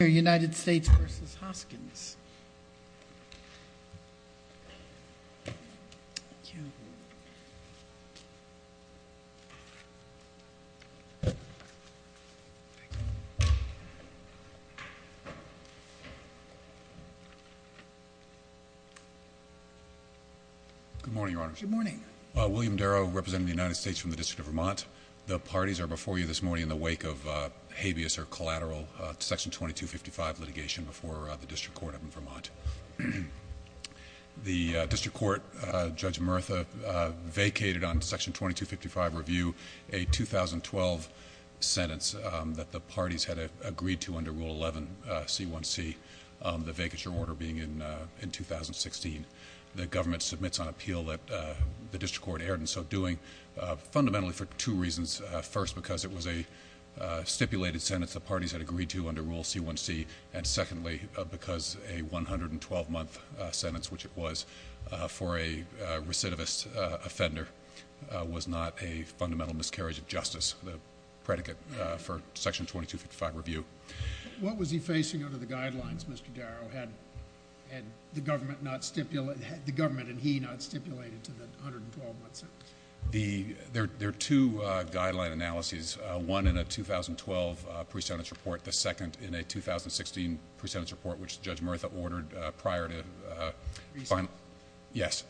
Good morning, Your Honors. Good morning. William Darrow, representing the United States from the District of Vermont. The parties are before you this morning in the wake of habeas or collateral Section 2255 litigation before the District Court up in Vermont. The District Court, Judge Murtha vacated on Section 2255 review a 2012 sentence that the parties had agreed to under Rule 11 C1C, the vacature order being in 2016. The government submits on appeal that the District Court erred in so doing, fundamentally for two reasons. First, because it was a stipulated sentence the parties had agreed to under Rule C1C. And secondly, because a 112-month sentence, which it was for a recidivist offender, was not a fundamental miscarriage of justice, the predicate for Section 2255 review. What was he facing under the guidelines, Mr. Darrow? Had the government and he not stipulated to the 112-month sentence? There are two guideline analyses, one in a 2012 pre-sentence report, the second in a 2016 pre-sentence report, which Judge Murtha ordered prior to... Pre-sentence? Yes.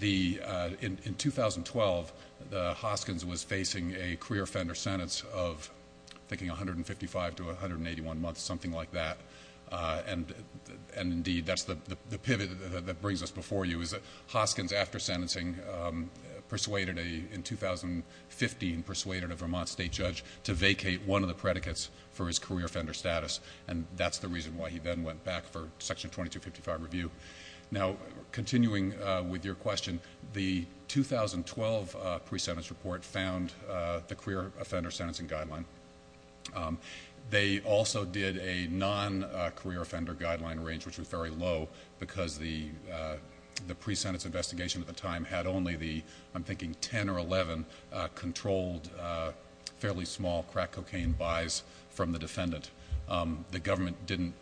In 2012, the Hoskins was facing a career offender sentence of, I'm thinking, 155 to 181 months, something like that, and indeed, that's the pivot that brings us before you is that Hoskins after sentencing, in 2015, persuaded a Vermont state judge to vacate one of the predicates for his career offender status, and that's the reason why he then went back for Section 2255 review. Now continuing with your question, the 2012 pre-sentence report found the career offender sentencing guideline. They also did a non-career offender guideline range, which was very low, because the pre-sentence investigation at the time had only the, I'm thinking, 10 or 11 controlled, fairly small crack cocaine buys from the defendant. The government didn't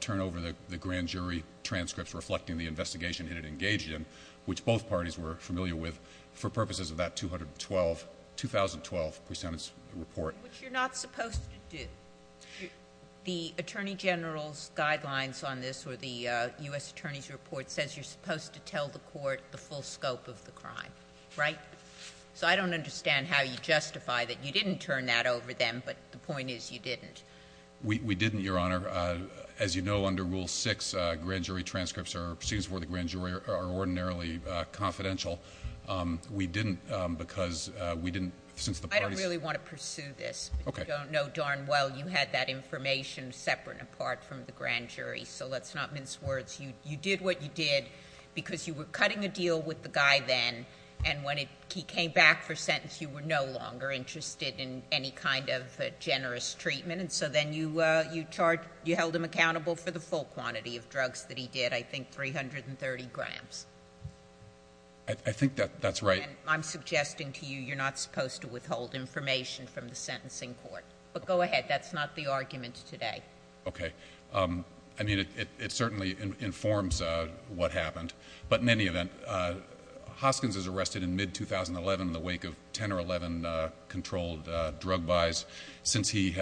turn over the grand jury transcripts reflecting the investigation it had engaged in, which both parties were familiar with, for purposes of that 2012 pre-sentence report. Which you're not supposed to do. The Attorney General's guidelines on this, or the U.S. Attorney's report, says you're the full scope of the crime, right? So I don't understand how you justify that you didn't turn that over them, but the point is you didn't. We didn't, Your Honor. As you know, under Rule 6, grand jury transcripts or proceedings before the grand jury are ordinarily confidential. We didn't, because we didn't, since the parties— I don't really want to pursue this. Okay. But you don't know darn well. You had that information separate and apart from the grand jury, so let's not mince words. You did what you did because you were cutting a deal with the guy then, and when he came back for sentence, you were no longer interested in any kind of generous treatment. And so then you held him accountable for the full quantity of drugs that he did, I think 330 grams. I think that's right. I'm suggesting to you you're not supposed to withhold information from the sentencing court. But go ahead. That's not the argument today. Okay. I mean, it certainly informs what happened. But in any event, Hoskins is arrested in mid-2011 in the wake of 10 or 11 controlled drug buys. Since he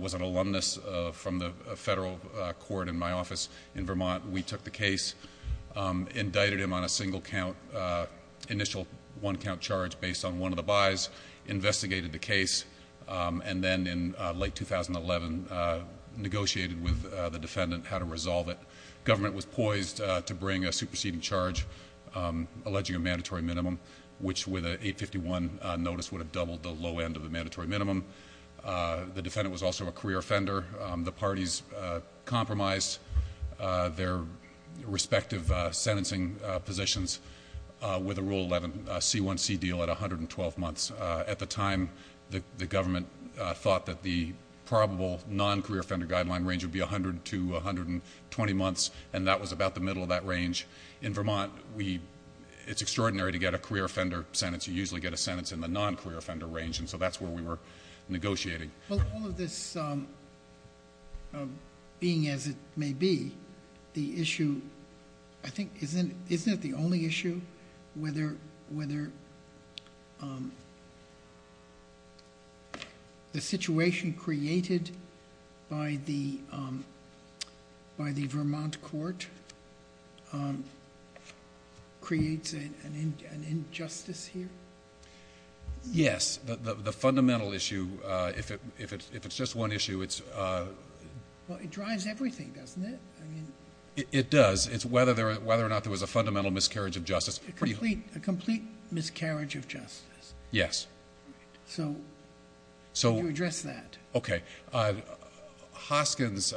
was an alumnus from the federal court in my office in Vermont, we took the case, indicted him on a single-count, initial one-count charge based on one of the buys, investigated the case, and then in late 2011, negotiated with the defendant how to resolve it. Government was poised to bring a superseding charge alleging a mandatory minimum, which with an 851 notice would have doubled the low end of the mandatory minimum. The defendant was also a career offender. The parties compromised their respective sentencing positions with a Rule 11 C1C deal at 112 months. At the time, the government thought that the probable non-career offender guideline range would be 100 to 120 months, and that was about the middle of that range. In Vermont, it's extraordinary to get a career offender sentence. You usually get a sentence in the non-career offender range, and so that's where we were negotiating. Well, all of this being as it may be, the issue, I think, isn't it the only issue whether the situation created by the Vermont court creates an injustice here? Yes. The fundamental issue, if it's just one issue, it's... Well, it drives everything, doesn't it? It does. It's whether or not there was a fundamental miscarriage of justice. A complete miscarriage of justice. Yes. Right. So, you address that. Okay. Hoskins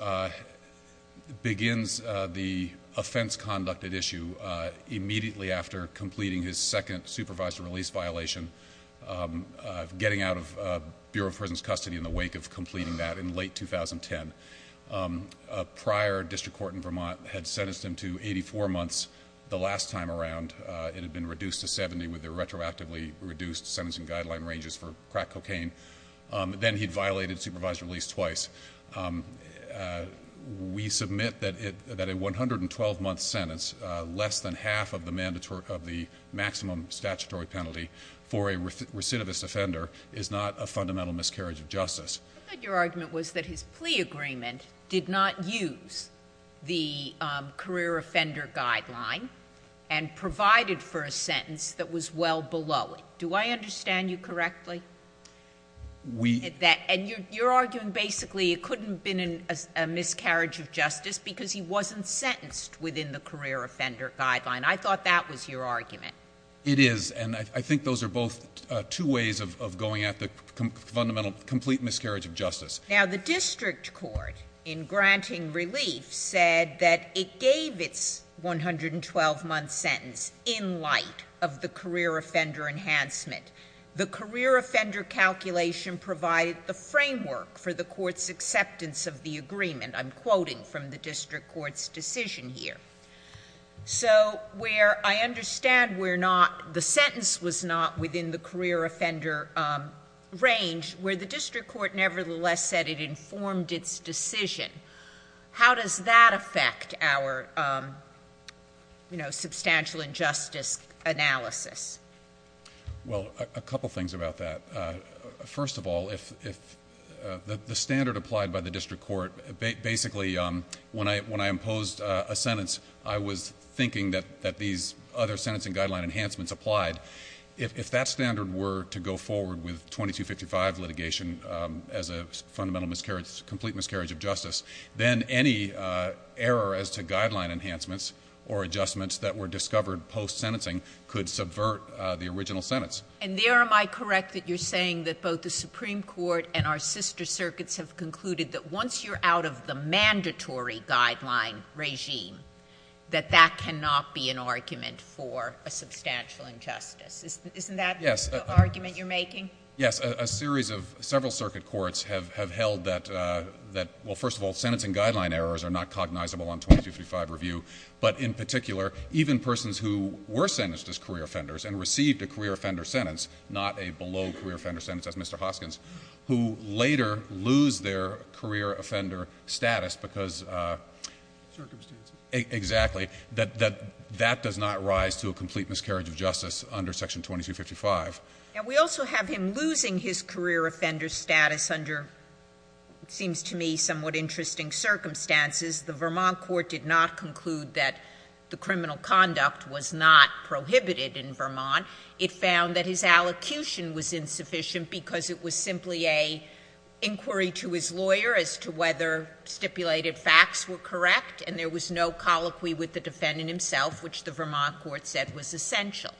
begins the offense conducted issue immediately after completing his second supervised release violation, getting out of Bureau of Prison's custody in the wake of completing that in late 2010. A prior district court in Vermont had sentenced him to 84 months. The last time around, it had been reduced to 70 with the retroactively reduced sentencing guideline ranges for crack cocaine. Then he'd violated supervised release twice. We submit that a 112 month sentence, less than half of the maximum statutory penalty for a recidivist offender is not a fundamental miscarriage of justice. I thought your argument was that his plea agreement did not use the career offender guideline and provided for a sentence that was well below it. Do I understand you correctly? We... And you're arguing basically it couldn't have been a miscarriage of justice because he wasn't sentenced within the career offender guideline. I thought that was your argument. It is. And I think those are both two ways of going at the fundamental, complete miscarriage of justice. Now, the district court, in granting relief, said that it gave its 112 month sentence in light of the career offender enhancement. The career offender calculation provided the framework for the court's acceptance of the agreement. I'm quoting from the district court's decision here. So where I understand we're not, the sentence was not within the career offender range, where the district court nevertheless said it informed its decision. How does that affect our, you know, substantial injustice analysis? Well, a couple things about that. First of all, if the standard applied by the district court, basically, when I imposed a sentence, I was thinking that these other sentencing guideline enhancements applied. If that standard were to go forward with 2255 litigation as a fundamental miscarriage, complete miscarriage of justice, then any error as to guideline enhancements or adjustments that were discovered post-sentencing could subvert the original sentence. And there, am I correct that you're saying that both the Supreme Court and our sister circuits have concluded that once you're out of the mandatory guideline regime, that that cannot be an argument for a substantial injustice? Isn't that the argument you're making? Yes. A series of several circuit courts have held that, well, first of all, sentencing guideline errors are not cognizable on 2255 review, but in particular, even persons who were sentenced as career offenders and received a career offender sentence, not a below-career-offender sentence, as Mr. Hoskins, who later lose their career offender status because of circumstances, exactly, that that does not rise to a complete miscarriage of justice under Section 2255. And we also have him losing his career offender status under, it seems to me, somewhat interesting circumstances. The Vermont court did not conclude that the criminal conduct was not prohibited in Vermont. It found that his allocution was insufficient because it was simply an inquiry to his lawyer as to whether stipulated facts were correct, and there was no colloquy with the defendant himself, which the Vermont court said was essential.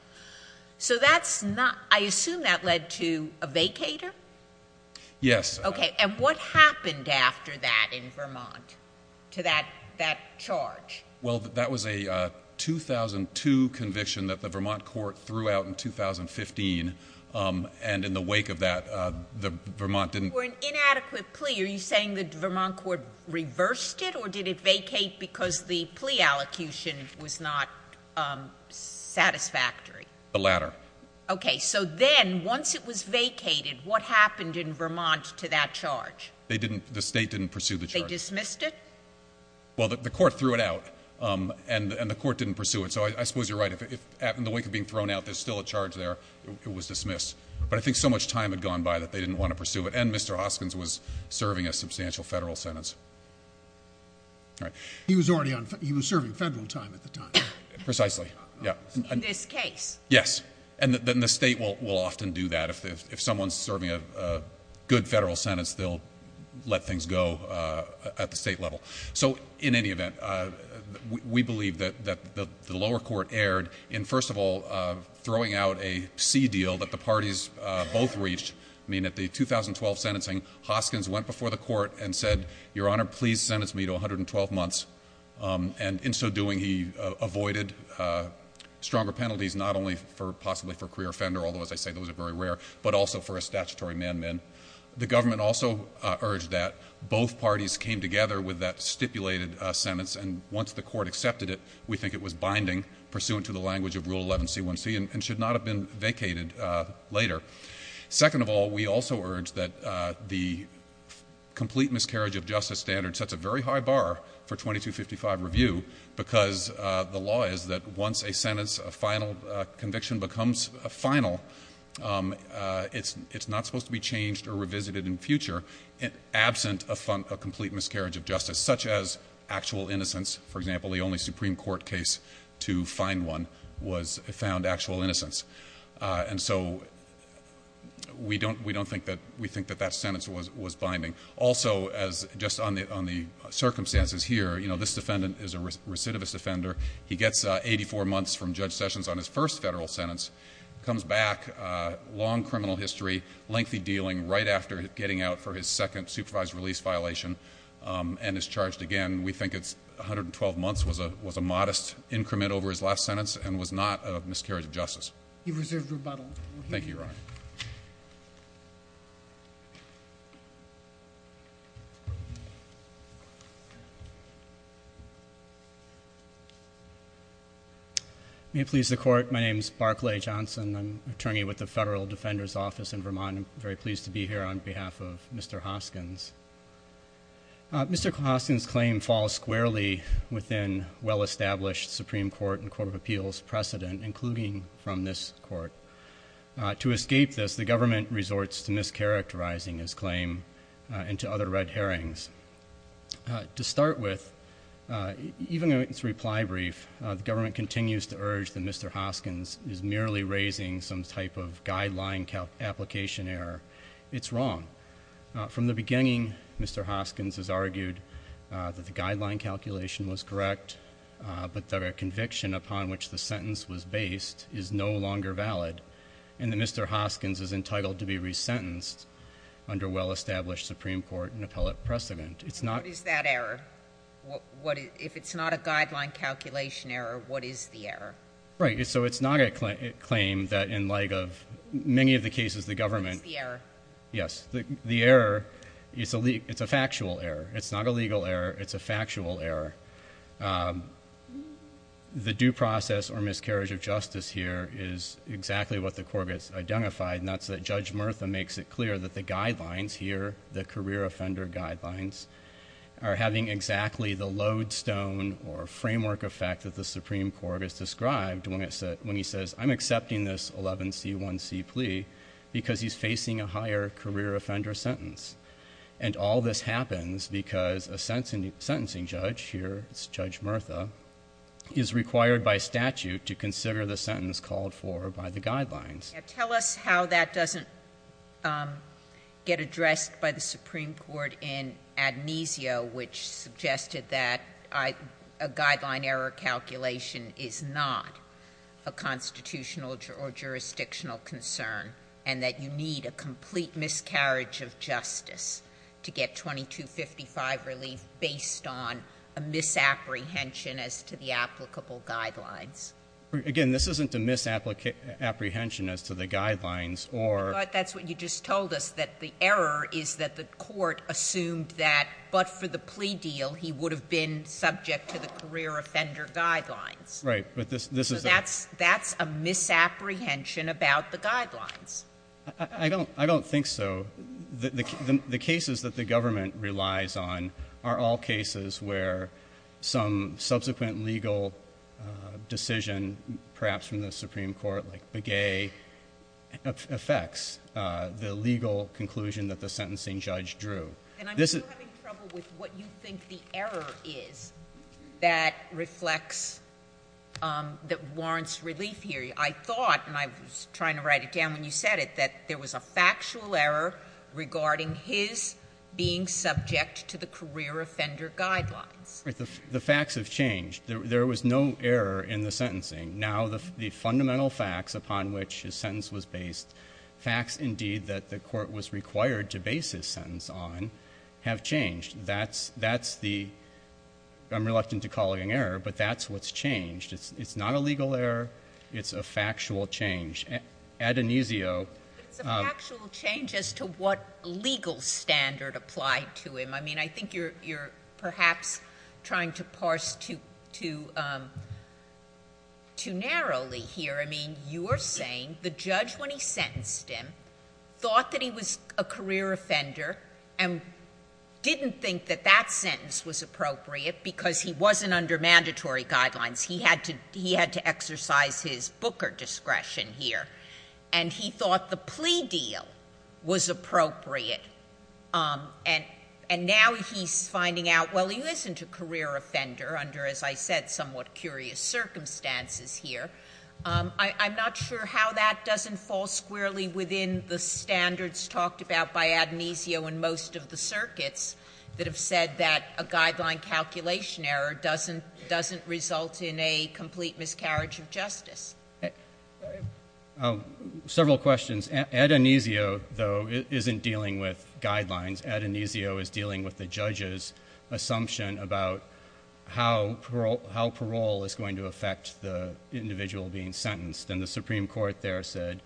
So that's not, I assume that led to a vacator? Yes. Okay. And what happened after that in Vermont to that charge? Well, that was a 2002 conviction that the Vermont court threw out in 2015, and in the wake of that, the Vermont didn't... For an inadequate plea, are you saying the Vermont court reversed it, or did it vacate because the plea allocution was not satisfactory? The latter. The latter. Okay. So then, once it was vacated, what happened in Vermont to that charge? They didn't... The state didn't pursue the charge. They dismissed it? Well, the court threw it out, and the court didn't pursue it. So I suppose you're right. If, in the wake of being thrown out, there's still a charge there, it was dismissed. But I think so much time had gone by that they didn't want to pursue it, and Mr. Hoskins was serving a substantial federal sentence. All right. He was already on... He was serving federal time at the time. Precisely. In this case? Yes. Yes. And the state will often do that. If someone's serving a good federal sentence, they'll let things go at the state level. So in any event, we believe that the lower court erred in, first of all, throwing out a sea deal that the parties both reached. I mean, at the 2012 sentencing, Hoskins went before the court and said, Your Honor, please sentence me to 112 months. And in so doing, he avoided stronger penalties, not only possibly for career offender, although as I say, those are very rare, but also for a statutory man-man. The government also urged that both parties came together with that stipulated sentence, and once the court accepted it, we think it was binding, pursuant to the language of Rule 11C1C, and should not have been vacated later. Second of all, we also urge that the complete miscarriage of justice standard sets a very high bar for 2255 review, because the law is that once a sentence, a final conviction becomes final, it's not supposed to be changed or revisited in future, absent a complete miscarriage of justice, such as actual innocence. For example, the only Supreme Court case to find one was found actual innocence. And so we don't think that we think that that sentence was binding. Also, as just on the circumstances here, you know, this defendant is a recidivist offender. He gets 84 months from Judge Sessions on his first Federal sentence, comes back, long criminal history, lengthy dealing right after getting out for his second supervised release violation, and is charged again. We think 112 months was a modest increment over his last sentence and was not a miscarriage He reserved rebuttal. Thank you, Your Honor. May it please the Court, my name is Barclay Johnson, I'm attorney with the Federal Defender's Office in Vermont. I'm very pleased to be here on behalf of Mr. Hoskins. Mr. Hoskins' claim falls squarely within well-established Supreme Court and Court of Appeals precedent, including from this Court. To escape this, the government resorts to mischaracterizing his claim into other red hearings. To start with, even in its reply brief, the government continues to urge that Mr. Hoskins is merely raising some type of guideline application error. It's wrong. From the beginning, Mr. Hoskins has argued that the guideline calculation was correct, but that a conviction upon which the sentence was based is no longer valid, and that Mr. Hoskins is entitled to be resentenced under well-established Supreme Court and appellate precedent. It's not— What is that error? If it's not a guideline calculation error, what is the error? Right. So it's not a claim that, in light of many of the cases the government— What's the error? Yes. The error, it's a factual error. It's not a legal error. It's a factual error. The due process or miscarriage of justice here is exactly what the court has identified, and that's that Judge Murtha makes it clear that the guidelines here, the career offender guidelines, are having exactly the lodestone or framework effect that the Supreme Court has described when he says, I'm accepting this 11C1C plea because he's facing a higher career offender sentence. And all this happens because a sentencing judge, here it's Judge Murtha, is required by statute to consider the sentence called for by the guidelines. Tell us how that doesn't get addressed by the Supreme Court in Ad Nisio, which suggested that a guideline error calculation is not a constitutional or jurisdictional concern and that you need a complete miscarriage of justice to get 2255 relief based on a misapprehension as to the applicable guidelines. Again, this isn't a misapprehension as to the guidelines or— But that's what you just told us, that the error is that the court assumed that, but for the plea deal, he would have been subject to the career offender guidelines. Right. But this is— That's a misapprehension about the guidelines. I don't think so. The cases that the government relies on are all cases where some subsequent legal decision, perhaps from the Supreme Court, like Begay, affects the legal conclusion that the sentencing judge drew. And I'm still having trouble with what you think the error is that reflects that warrants relief here. I thought, and I was trying to write it down when you said it, that there was a factual error regarding his being subject to the career offender guidelines. The facts have changed. There was no error in the sentencing. Now, the fundamental facts upon which his sentence was based, facts, indeed, that the court was required to base his sentence on, have changed. That's the—I'm reluctant to call it an error, but that's what's changed. It's not a legal error. It's a factual change. Ad Aenesio— But it's a factual change as to what legal standard applied to him. I mean, I think you're perhaps trying to parse too narrowly here. I mean, you're saying the judge, when he sentenced him, thought that he was a career offender and didn't think that that sentence was appropriate because he wasn't under mandatory guidelines. He had to exercise his Booker discretion here. And he thought the plea deal was appropriate. And now he's finding out, well, he isn't a career offender under, as I said, somewhat curious circumstances here. I'm not sure how that doesn't fall squarely within the standards talked about by Ad Aenesio in most of the circuits that have said that a guideline calculation error doesn't result in a complete miscarriage of justice. Several questions. Ad Aenesio, though, isn't dealing with guidelines. Ad Aenesio is dealing with the judge's assumption about how parole is going to affect the individual being sentenced. And the Supreme Court there said,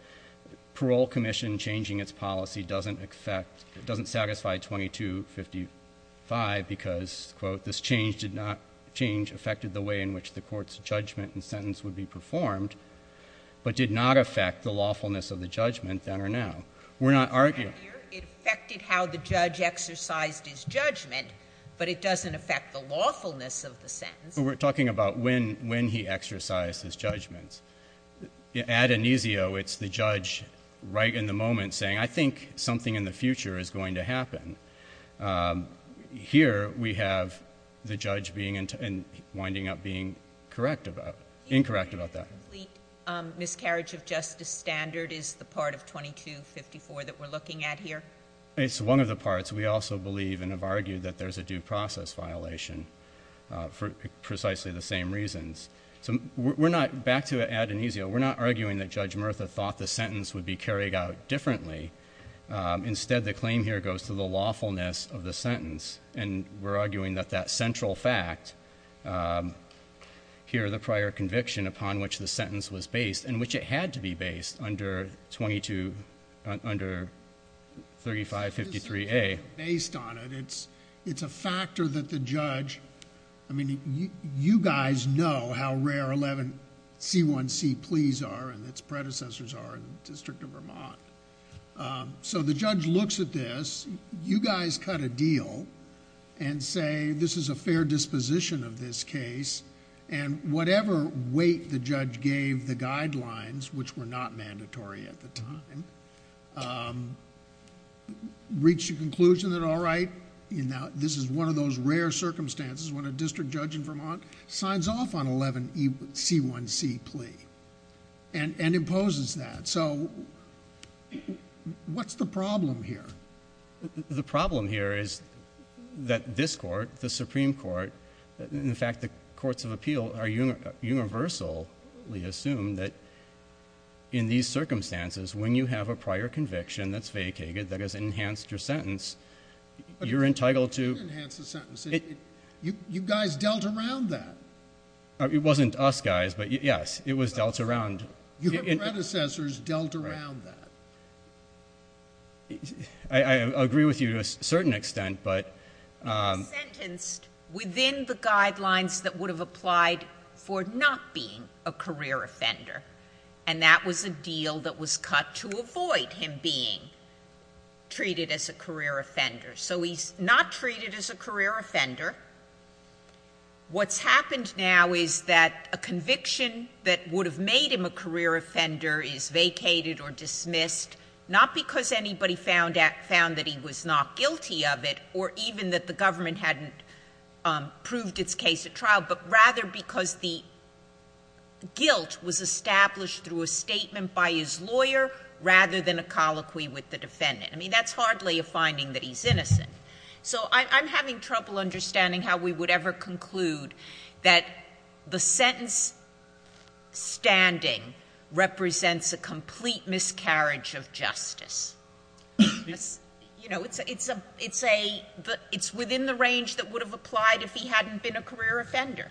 parole commission changing its policy doesn't satisfy 2255 because, quote, this change did not—change affected the way in which the court's judgment and sentence would be performed, but did not affect the lawfulness of the judgment then or now. We're not arguing— It affected how the judge exercised his judgment, but it doesn't affect the lawfulness of the sentence. But we're talking about when he exercised his judgments. Ad Aenesio, it's the judge right in the moment saying, I think something in the future is going to happen. Here we have the judge being—winding up being correct about—incorrect about that. The complete miscarriage of justice standard is the part of 2254 that we're looking at here? It's one of the parts. We also believe and have argued that there's a due process violation for precisely the same reasons. So we're not—back to Ad Aenesio—we're not arguing that Judge Murtha thought the sentence would be carried out differently. Instead, the claim here goes to the lawfulness of the sentence. And we're arguing that that central fact, here the prior conviction upon which the sentence was based, and which it had to be based under 22—under 3553A— Based on it, it's a factor that the judge—I mean, you guys know how rare 11C1C pleas are and its predecessors are in the District of Vermont. So the judge looks at this. You guys cut a deal and say this is a fair disposition of this case and whatever weight the judge gave the guidelines, which were not mandatory at the time, reached a conclusion that all right, this is one of those rare circumstances when a district judge in Vermont signs off on 11C1C plea and imposes that. So what's the problem here? The problem here is that this Court, the Supreme Court, in fact the courts of appeal, are universally assumed that in these circumstances, when you have a prior conviction that's vacated that has enhanced your sentence, you're entitled to— It didn't enhance the sentence. You guys dealt around that. It wasn't us guys, but yes, it was dealt around. Your predecessors dealt around that. I agree with you to a certain extent, but— He was sentenced within the guidelines that would have applied for not being a career offender, and that was a deal that was cut to avoid him being treated as a career offender. So he's not treated as a career offender. What's happened now is that a conviction that would have made him a career offender is vacated or dismissed, not because anybody found that he was not guilty of it or even that the government hadn't proved its case at trial, but rather because the guilt was established through a statement by his lawyer rather than a colloquy with the defendant. I mean, that's hardly a finding that he's innocent. So I'm having trouble understanding how we would ever conclude that the sentence standing represents a complete miscarriage of justice. You know, it's a — it's within the range that would have applied if he hadn't been a career offender.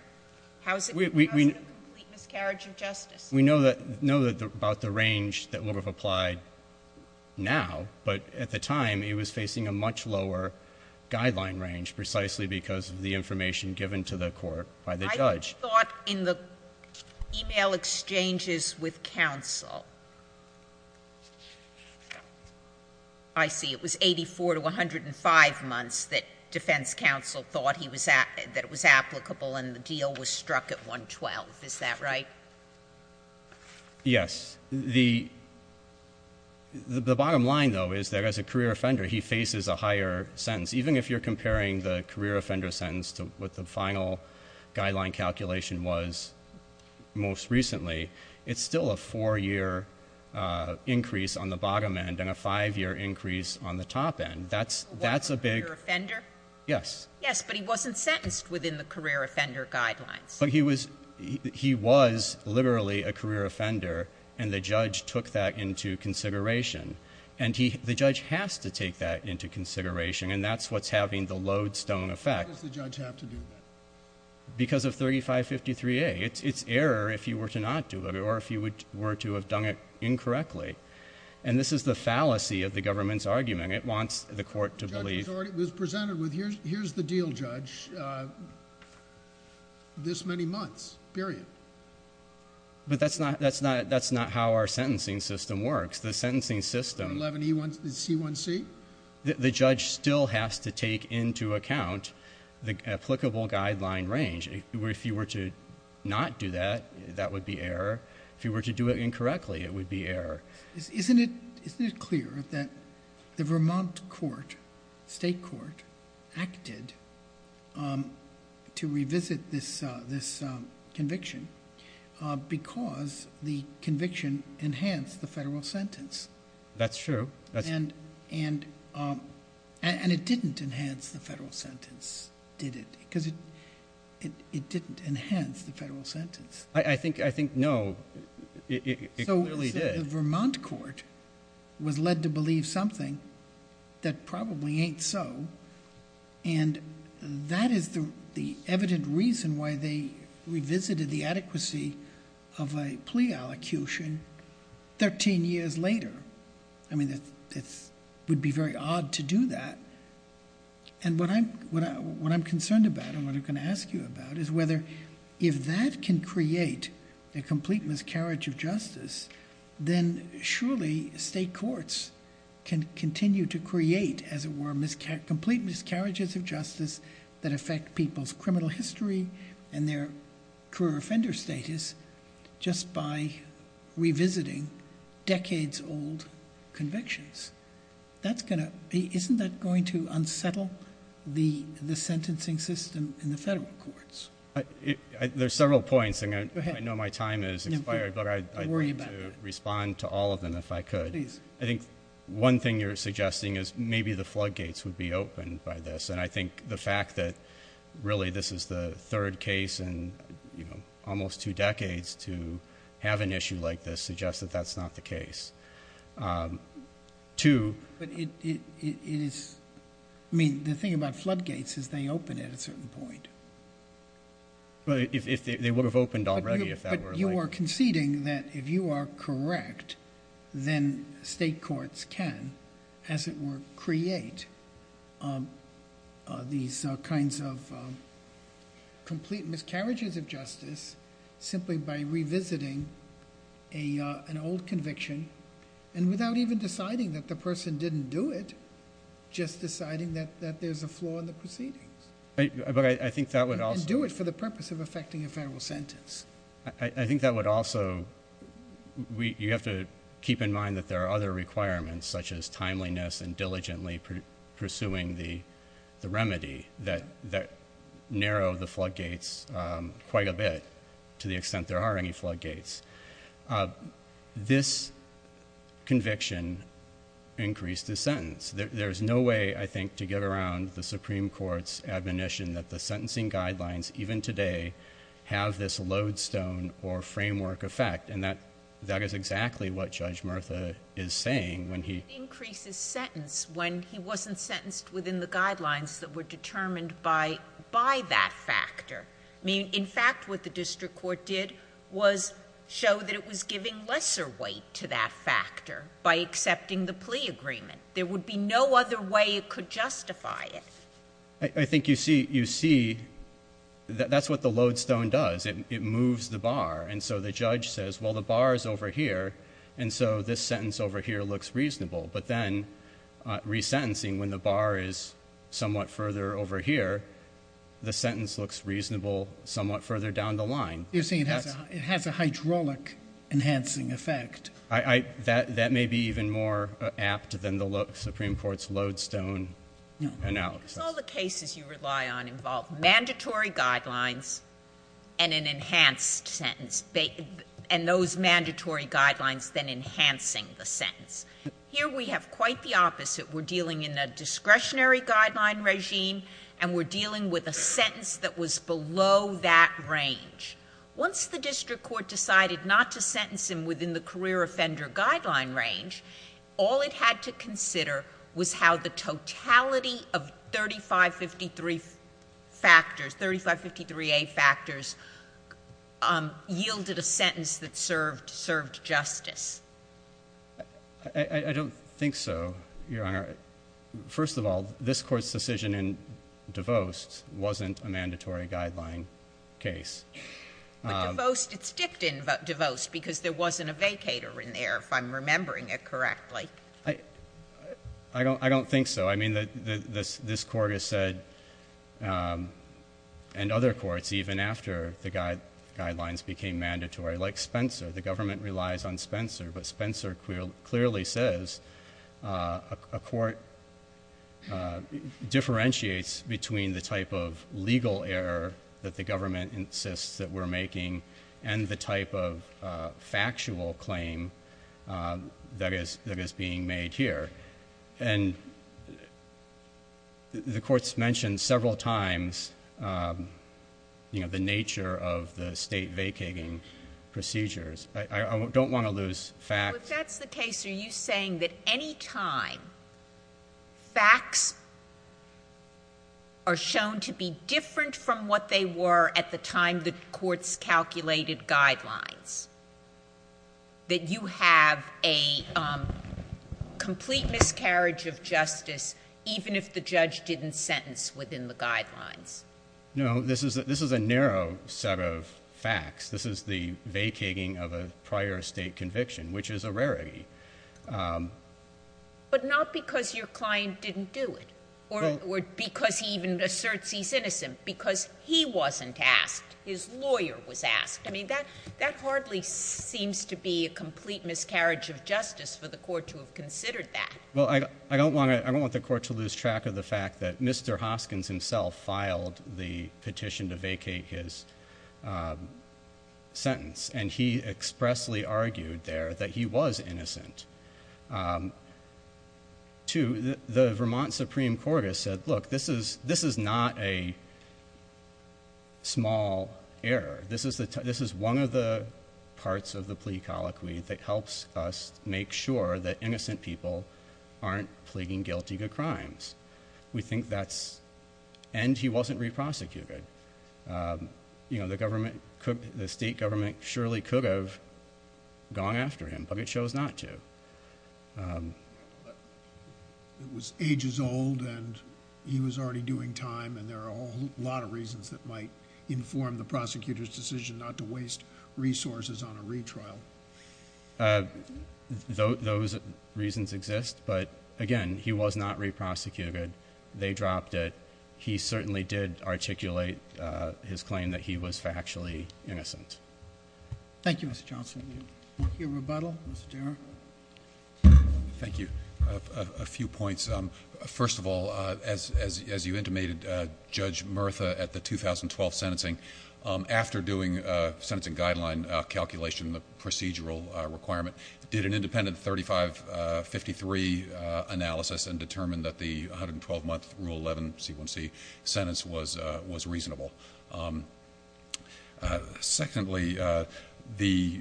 How is it a complete miscarriage of justice? We know that — know about the range that would have applied now, but at the time he was facing a much lower guideline range precisely because of the information given to the court by the judge. I thought in the e-mail exchanges with counsel — I see, it was 84 to 105 months that defense counsel thought he was — that it was applicable and the deal was struck at 112, is that right? Yes. The bottom line, though, is that as a career offender, he faces a higher sentence. Even if you're comparing the career offender sentence to what the final guideline calculation was most recently, it's still a four-year increase on the bottom end and a five-year increase on the top end. That's a big — Was he a career offender? Yes. Yes, but he wasn't sentenced within the career offender guidelines. But he was — he was literally a career offender and the judge took that into consideration. And he — the judge has to take that into consideration and that's what's having the lodestone effect. Why does the judge have to do that? Because of 3553A. It's error if you were to not do it or if you were to have done it incorrectly. And this is the fallacy of the government's argument. It wants the court to believe — The judge was already — was presented with, here's the deal, judge. Judge, this many months, period. But that's not — that's not — that's not how our sentencing system works. The sentencing system — 11E1C1C? The judge still has to take into account the applicable guideline range. If you were to not do that, that would be error. If you were to do it incorrectly, it would be error. Isn't it — isn't it clear that the Vermont court, state court, acted to revisit this — this conviction because the conviction enhanced the federal sentence? That's true. That's — And — and — and it didn't enhance the federal sentence, did it? Because it — it didn't enhance the federal sentence. I think — I think, no. It clearly did. The Vermont court was led to believe something that probably ain't so. And that is the — the evident reason why they revisited the adequacy of a plea allocution 13 years later. I mean, it's — it would be very odd to do that. And what I'm — what I'm concerned about and what I'm going to ask you about is whether if that can create a complete miscarriage of justice, then surely state courts can continue to create, as it were, miscarriages — complete miscarriages of justice that affect people's criminal history and their career offender status just by revisiting decades-old convictions. That's going to — isn't that going to unsettle the — the sentencing system in the federal courts? There's several points. Go ahead. I know my time has expired. No, go ahead. Don't worry about that. But I'd like to respond to all of them, if I could. Please. I think one thing you're suggesting is maybe the floodgates would be opened by this. And I think the fact that, really, this is the third case in, you know, almost two decades to have an issue like this suggests that that's not the case. Two — But it — it is — I mean, the thing about floodgates is they open at a certain point. But if they would have opened already, if that were — But you are conceding that if you are correct, then state courts can, as it were, create these kinds of complete miscarriages of justice simply by revisiting an old conviction and without even deciding that the person didn't do it, just deciding that there's a flaw in the proceedings. But I think that would also — And do it for the purpose of effecting a federal sentence. I think that would also — you have to keep in mind that there are other requirements such as timeliness and diligently pursuing the remedy that narrow the floodgates quite a bit to the extent there are any floodgates. This conviction increased the sentence. There's no way, I think, to get around the Supreme Court's admonition that the sentencing guidelines, even today, have this lodestone or framework effect. And that is exactly what Judge Murtha is saying when he — It increases sentence when he wasn't sentenced within the guidelines that were determined by that factor. I mean, in fact, what the district court did was show that it was giving lesser weight to that factor by accepting the plea agreement. There would be no other way it could justify it. I think you see — that's what the lodestone does. It moves the bar. And so the judge says, well, the bar is over here, and so this sentence over here looks reasonable. But then, resentencing, when the bar is somewhat further over here, the sentence looks reasonable somewhat further down the line. You're saying it has a — it has a hydraulic enhancing effect. That may be even more apt than the Supreme Court's lodestone analysis. No. Because all the cases you rely on involve mandatory guidelines and an enhanced sentence, and those mandatory guidelines then enhancing the sentence. Here, we have quite the opposite. We're dealing in a discretionary guideline regime, and we're dealing with a sentence that was below that range. Once the district court decided not to sentence him within the career offender guideline range, all it had to consider was how the totality of 3553 factors — 3553A factors yielded a sentence that served — served justice. I — I don't think so, Your Honor. First of all, this Court's decision in DeVost wasn't a mandatory guideline case. But DeVost — it's dipped in DeVost because there wasn't a vacator in there, if I'm remembering it correctly. I don't — I don't think so. I mean, the — this court has said, and other courts, even after the guidelines became mandatory, like Spencer. The government relies on Spencer, but Spencer clearly says a court differentiates between the type of legal error that the government insists that we're making and the type of factual claim that is — that is being made here. And — and the court's mentioned several times, you know, the nature of the state vacating procedures. I — I don't want to lose facts. Well, if that's the case, are you saying that any time facts are shown to be different from what they were at the time the court's calculated guidelines, that you have a complete miscarriage of justice even if the judge didn't sentence within the guidelines? No. This is — this is a narrow set of facts. This is the vacating of a prior state conviction, which is a rarity. But not because your client didn't do it, or because he even asserts he's innocent. Because he wasn't asked. His lawyer was asked. I mean, that — that hardly seems to be a complete miscarriage of justice for the court to have considered that. Well, I don't want to — I don't want the court to lose track of the fact that Mr. Hoskins himself filed the petition to vacate his sentence, and he expressly argued there that he was innocent. Two, the Vermont Supreme Court has said, look, this is — this is not a small error. This is the — this is one of the parts of the plea colloquy that helps us make sure that innocent people aren't pleading guilty to crimes. We think that's — and he wasn't re-prosecuted. You know, the government could — the state government surely could have gone after him, but it chose not to. It was ages old, and he was already doing time, and there are a whole lot of reasons that might inform the prosecutor's decision not to waste resources on a retrial. Those reasons exist, but again, he was not re-prosecuted. They dropped it. He certainly did articulate his claim that he was factually innocent. Thank you, Mr. Johnson. Thank you. Thank you. Rebuttal? Mr. Dara? Thank you. A few points. First of all, as you intimated, Judge Murtha, at the 2012 sentencing, after doing a sentencing guideline calculation, the procedural requirement, did an independent 3553 analysis and determined that the 112-month Rule 11 C1C sentence was reasonable. Secondly, the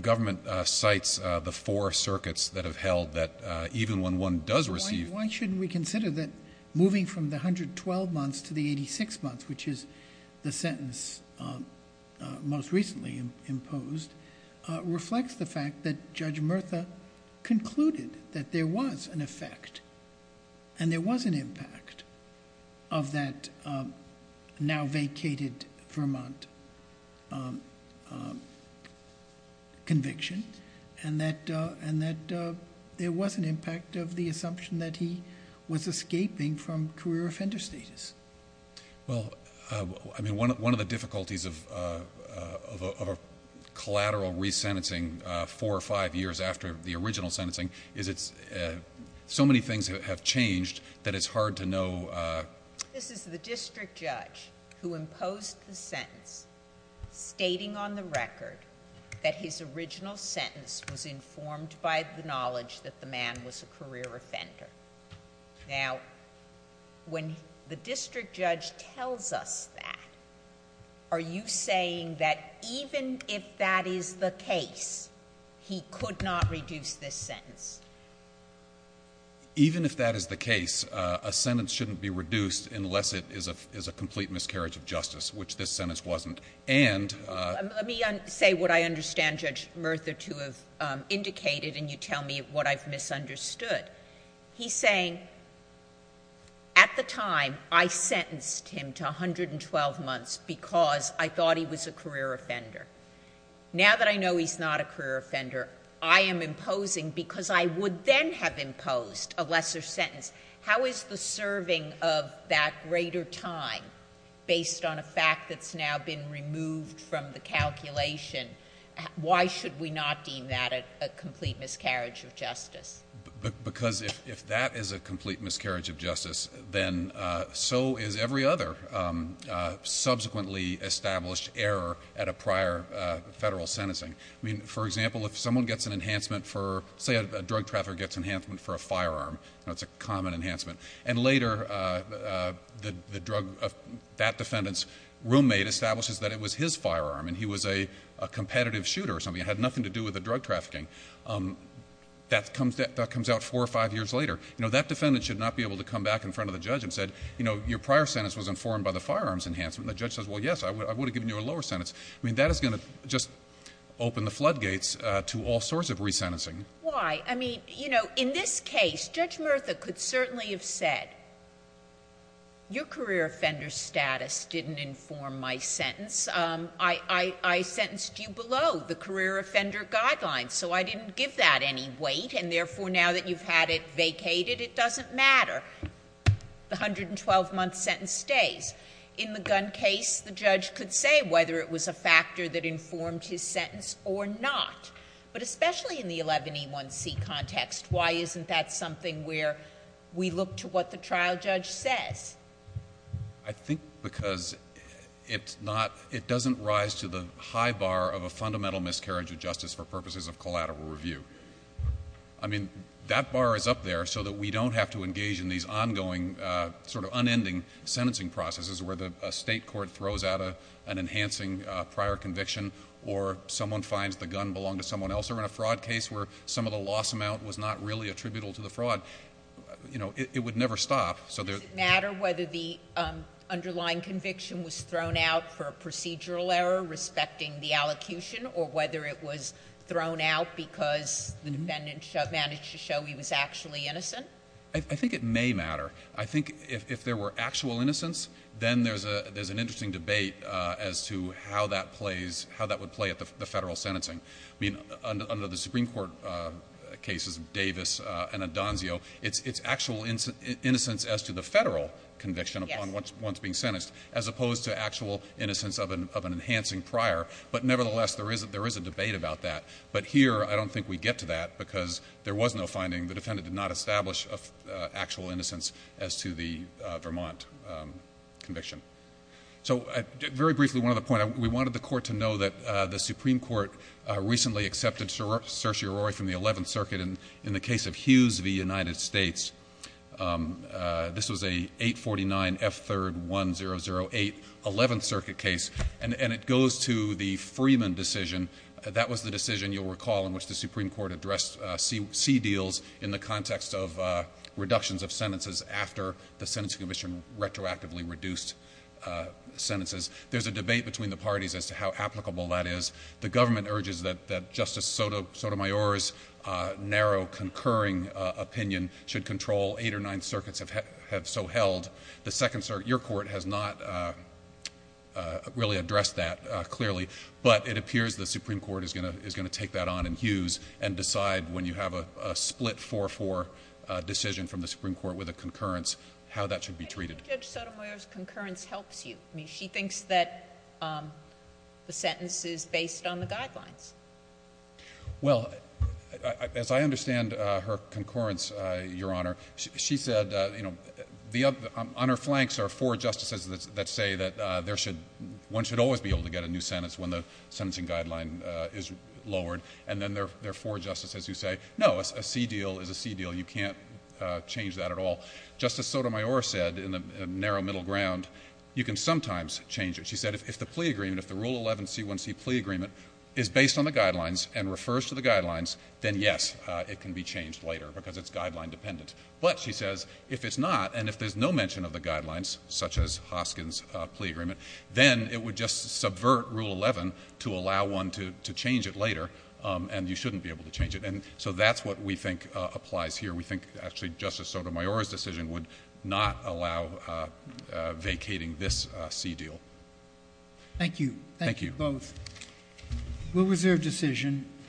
government cites the four circuits that have held that even when one does receive — Why shouldn't we consider that moving from the 112 months to the 86 months, which is the sentence most recently imposed, reflects the fact that Judge Murtha concluded that there was an effect and there was an impact of that now-vacated Vermont conviction and that there was an impact of the assumption that he was escaping from career offender status. Well, I mean, one of the difficulties of a collateral resentencing four or five years after the original sentencing is it's — so many things have changed that it's hard to know — This is the district judge who imposed the sentence stating on the record that his original sentence was informed by the knowledge that the man was a career offender. Now, when the district judge tells us that, are you saying that even if that is the case, he could not reduce this sentence? Even if that is the case, a sentence shouldn't be reduced unless it is a complete miscarriage of justice, which this sentence wasn't. And — Let me say what I understand Judge Murtha to have indicated, and you tell me what I've misunderstood. He's saying, at the time, I sentenced him to 112 months because I thought he was a career offender. Now that I know he's not a career offender, I am imposing because I would then have imposed a lesser sentence. How is the serving of that greater time, based on a fact that's now been removed from the calculation, why should we not deem that a complete miscarriage of justice? Because if that is a complete miscarriage of justice, then so is every other subsequently established error at a prior federal sentencing. For example, if someone gets an enhancement for — say a drug trafficker gets an enhancement for a firearm, it's a common enhancement, and later that defendant's roommate establishes that it was his firearm and he was a competitive shooter or something, it had nothing to do with the drug trafficking, that comes out four or five years later. That defendant should not be able to come back in front of the judge and say, your prior sentence was informed by the firearms enhancement, and the judge says, well, yes, I would have given you a lower sentence. I mean, that is going to just open the floodgates to all sorts of resentencing. Why? I mean, you know, in this case, Judge Murtha could certainly have said, your career offender status didn't inform my sentence. I sentenced you below the career offender guidelines, so I didn't give that any weight, and therefore, now that you've had it vacated, it doesn't matter. The 112-month sentence stays. In the gun case, the judge could say whether it was a factor that informed his sentence or not, but especially in the 11E1C context, why isn't that something where we look to what the trial judge says? I think because it's not — it doesn't rise to the high bar of a fundamental miscarriage of justice for purposes of collateral review. I mean, that bar is up there so that we don't have to engage in these ongoing, sort of unending sentencing processes where a state court throws out an enhancing prior conviction, or someone finds the gun belonged to someone else, or in a fraud case where some of the loss amount was not really attributable to the fraud, you know, it would never stop. Does it matter whether the underlying conviction was thrown out for a procedural error respecting the allocution, or whether it was thrown out because the defendant managed to show he was actually innocent? I think it may matter. I think if there were actual innocence, then there's an interesting debate as to how that plays — how that would play at the federal sentencing. I mean, under the Supreme Court cases, Davis and Adonzio, it's actual innocence as to the federal conviction upon one's being sentenced, as opposed to actual innocence of an enhancing prior. But nevertheless, there is a debate about that. But here, I don't think we get to that because there was no finding. The defendant did not establish actual innocence as to the Vermont conviction. So very briefly, one other point. We wanted the Court to know that the Supreme Court recently accepted Cersei Arroyo from the Eleventh Circuit in the case of Hughes v. United States. This was a 849 F. 3rd 1008 Eleventh Circuit case. And it goes to the Freeman decision. That was the decision, you'll recall, in which the Supreme Court addressed C deals in the context of reductions of sentences after the Sentencing Commission retroactively reduced sentences. There's a debate between the parties as to how applicable that is. The government urges that Justice Sotomayor's narrow concurring opinion should control eight or nine circuits have so held. The Second Circuit, your court, has not really addressed that clearly. But it appears the Supreme Court is going to take that on in Hughes and decide when you have a split 4-4 decision from the Supreme Court with a concurrence, how that should be treated. Can you judge Sotomayor's concurrence helps you? I mean, she thinks that the sentence is based on the guidelines. Well, as I understand her concurrence, your Honor, she said, you know, on her flanks are four justices that say that one should always be able to get a new sentence when the sentencing guideline is lowered. And then there are four justices who say, no, a C deal is a C deal. You can't change that at all. Justice Sotomayor said in the narrow middle ground, you can sometimes change it. She said if the plea agreement, if the Rule 11 C1C plea agreement is based on the guidelines and refers to the guidelines, then, yes, it can be changed later because it's guideline dependent. But, she says, if it's not, and if there's no mention of the guidelines, such as Hoskin's plea agreement, then it would just subvert Rule 11 to allow one to change it later, and you shouldn't be able to change it. And so that's what we think applies here. We think, actually, Justice Sotomayor's decision would not allow vacating this C deal. Thank you. Thank you both. We'll reserve decision.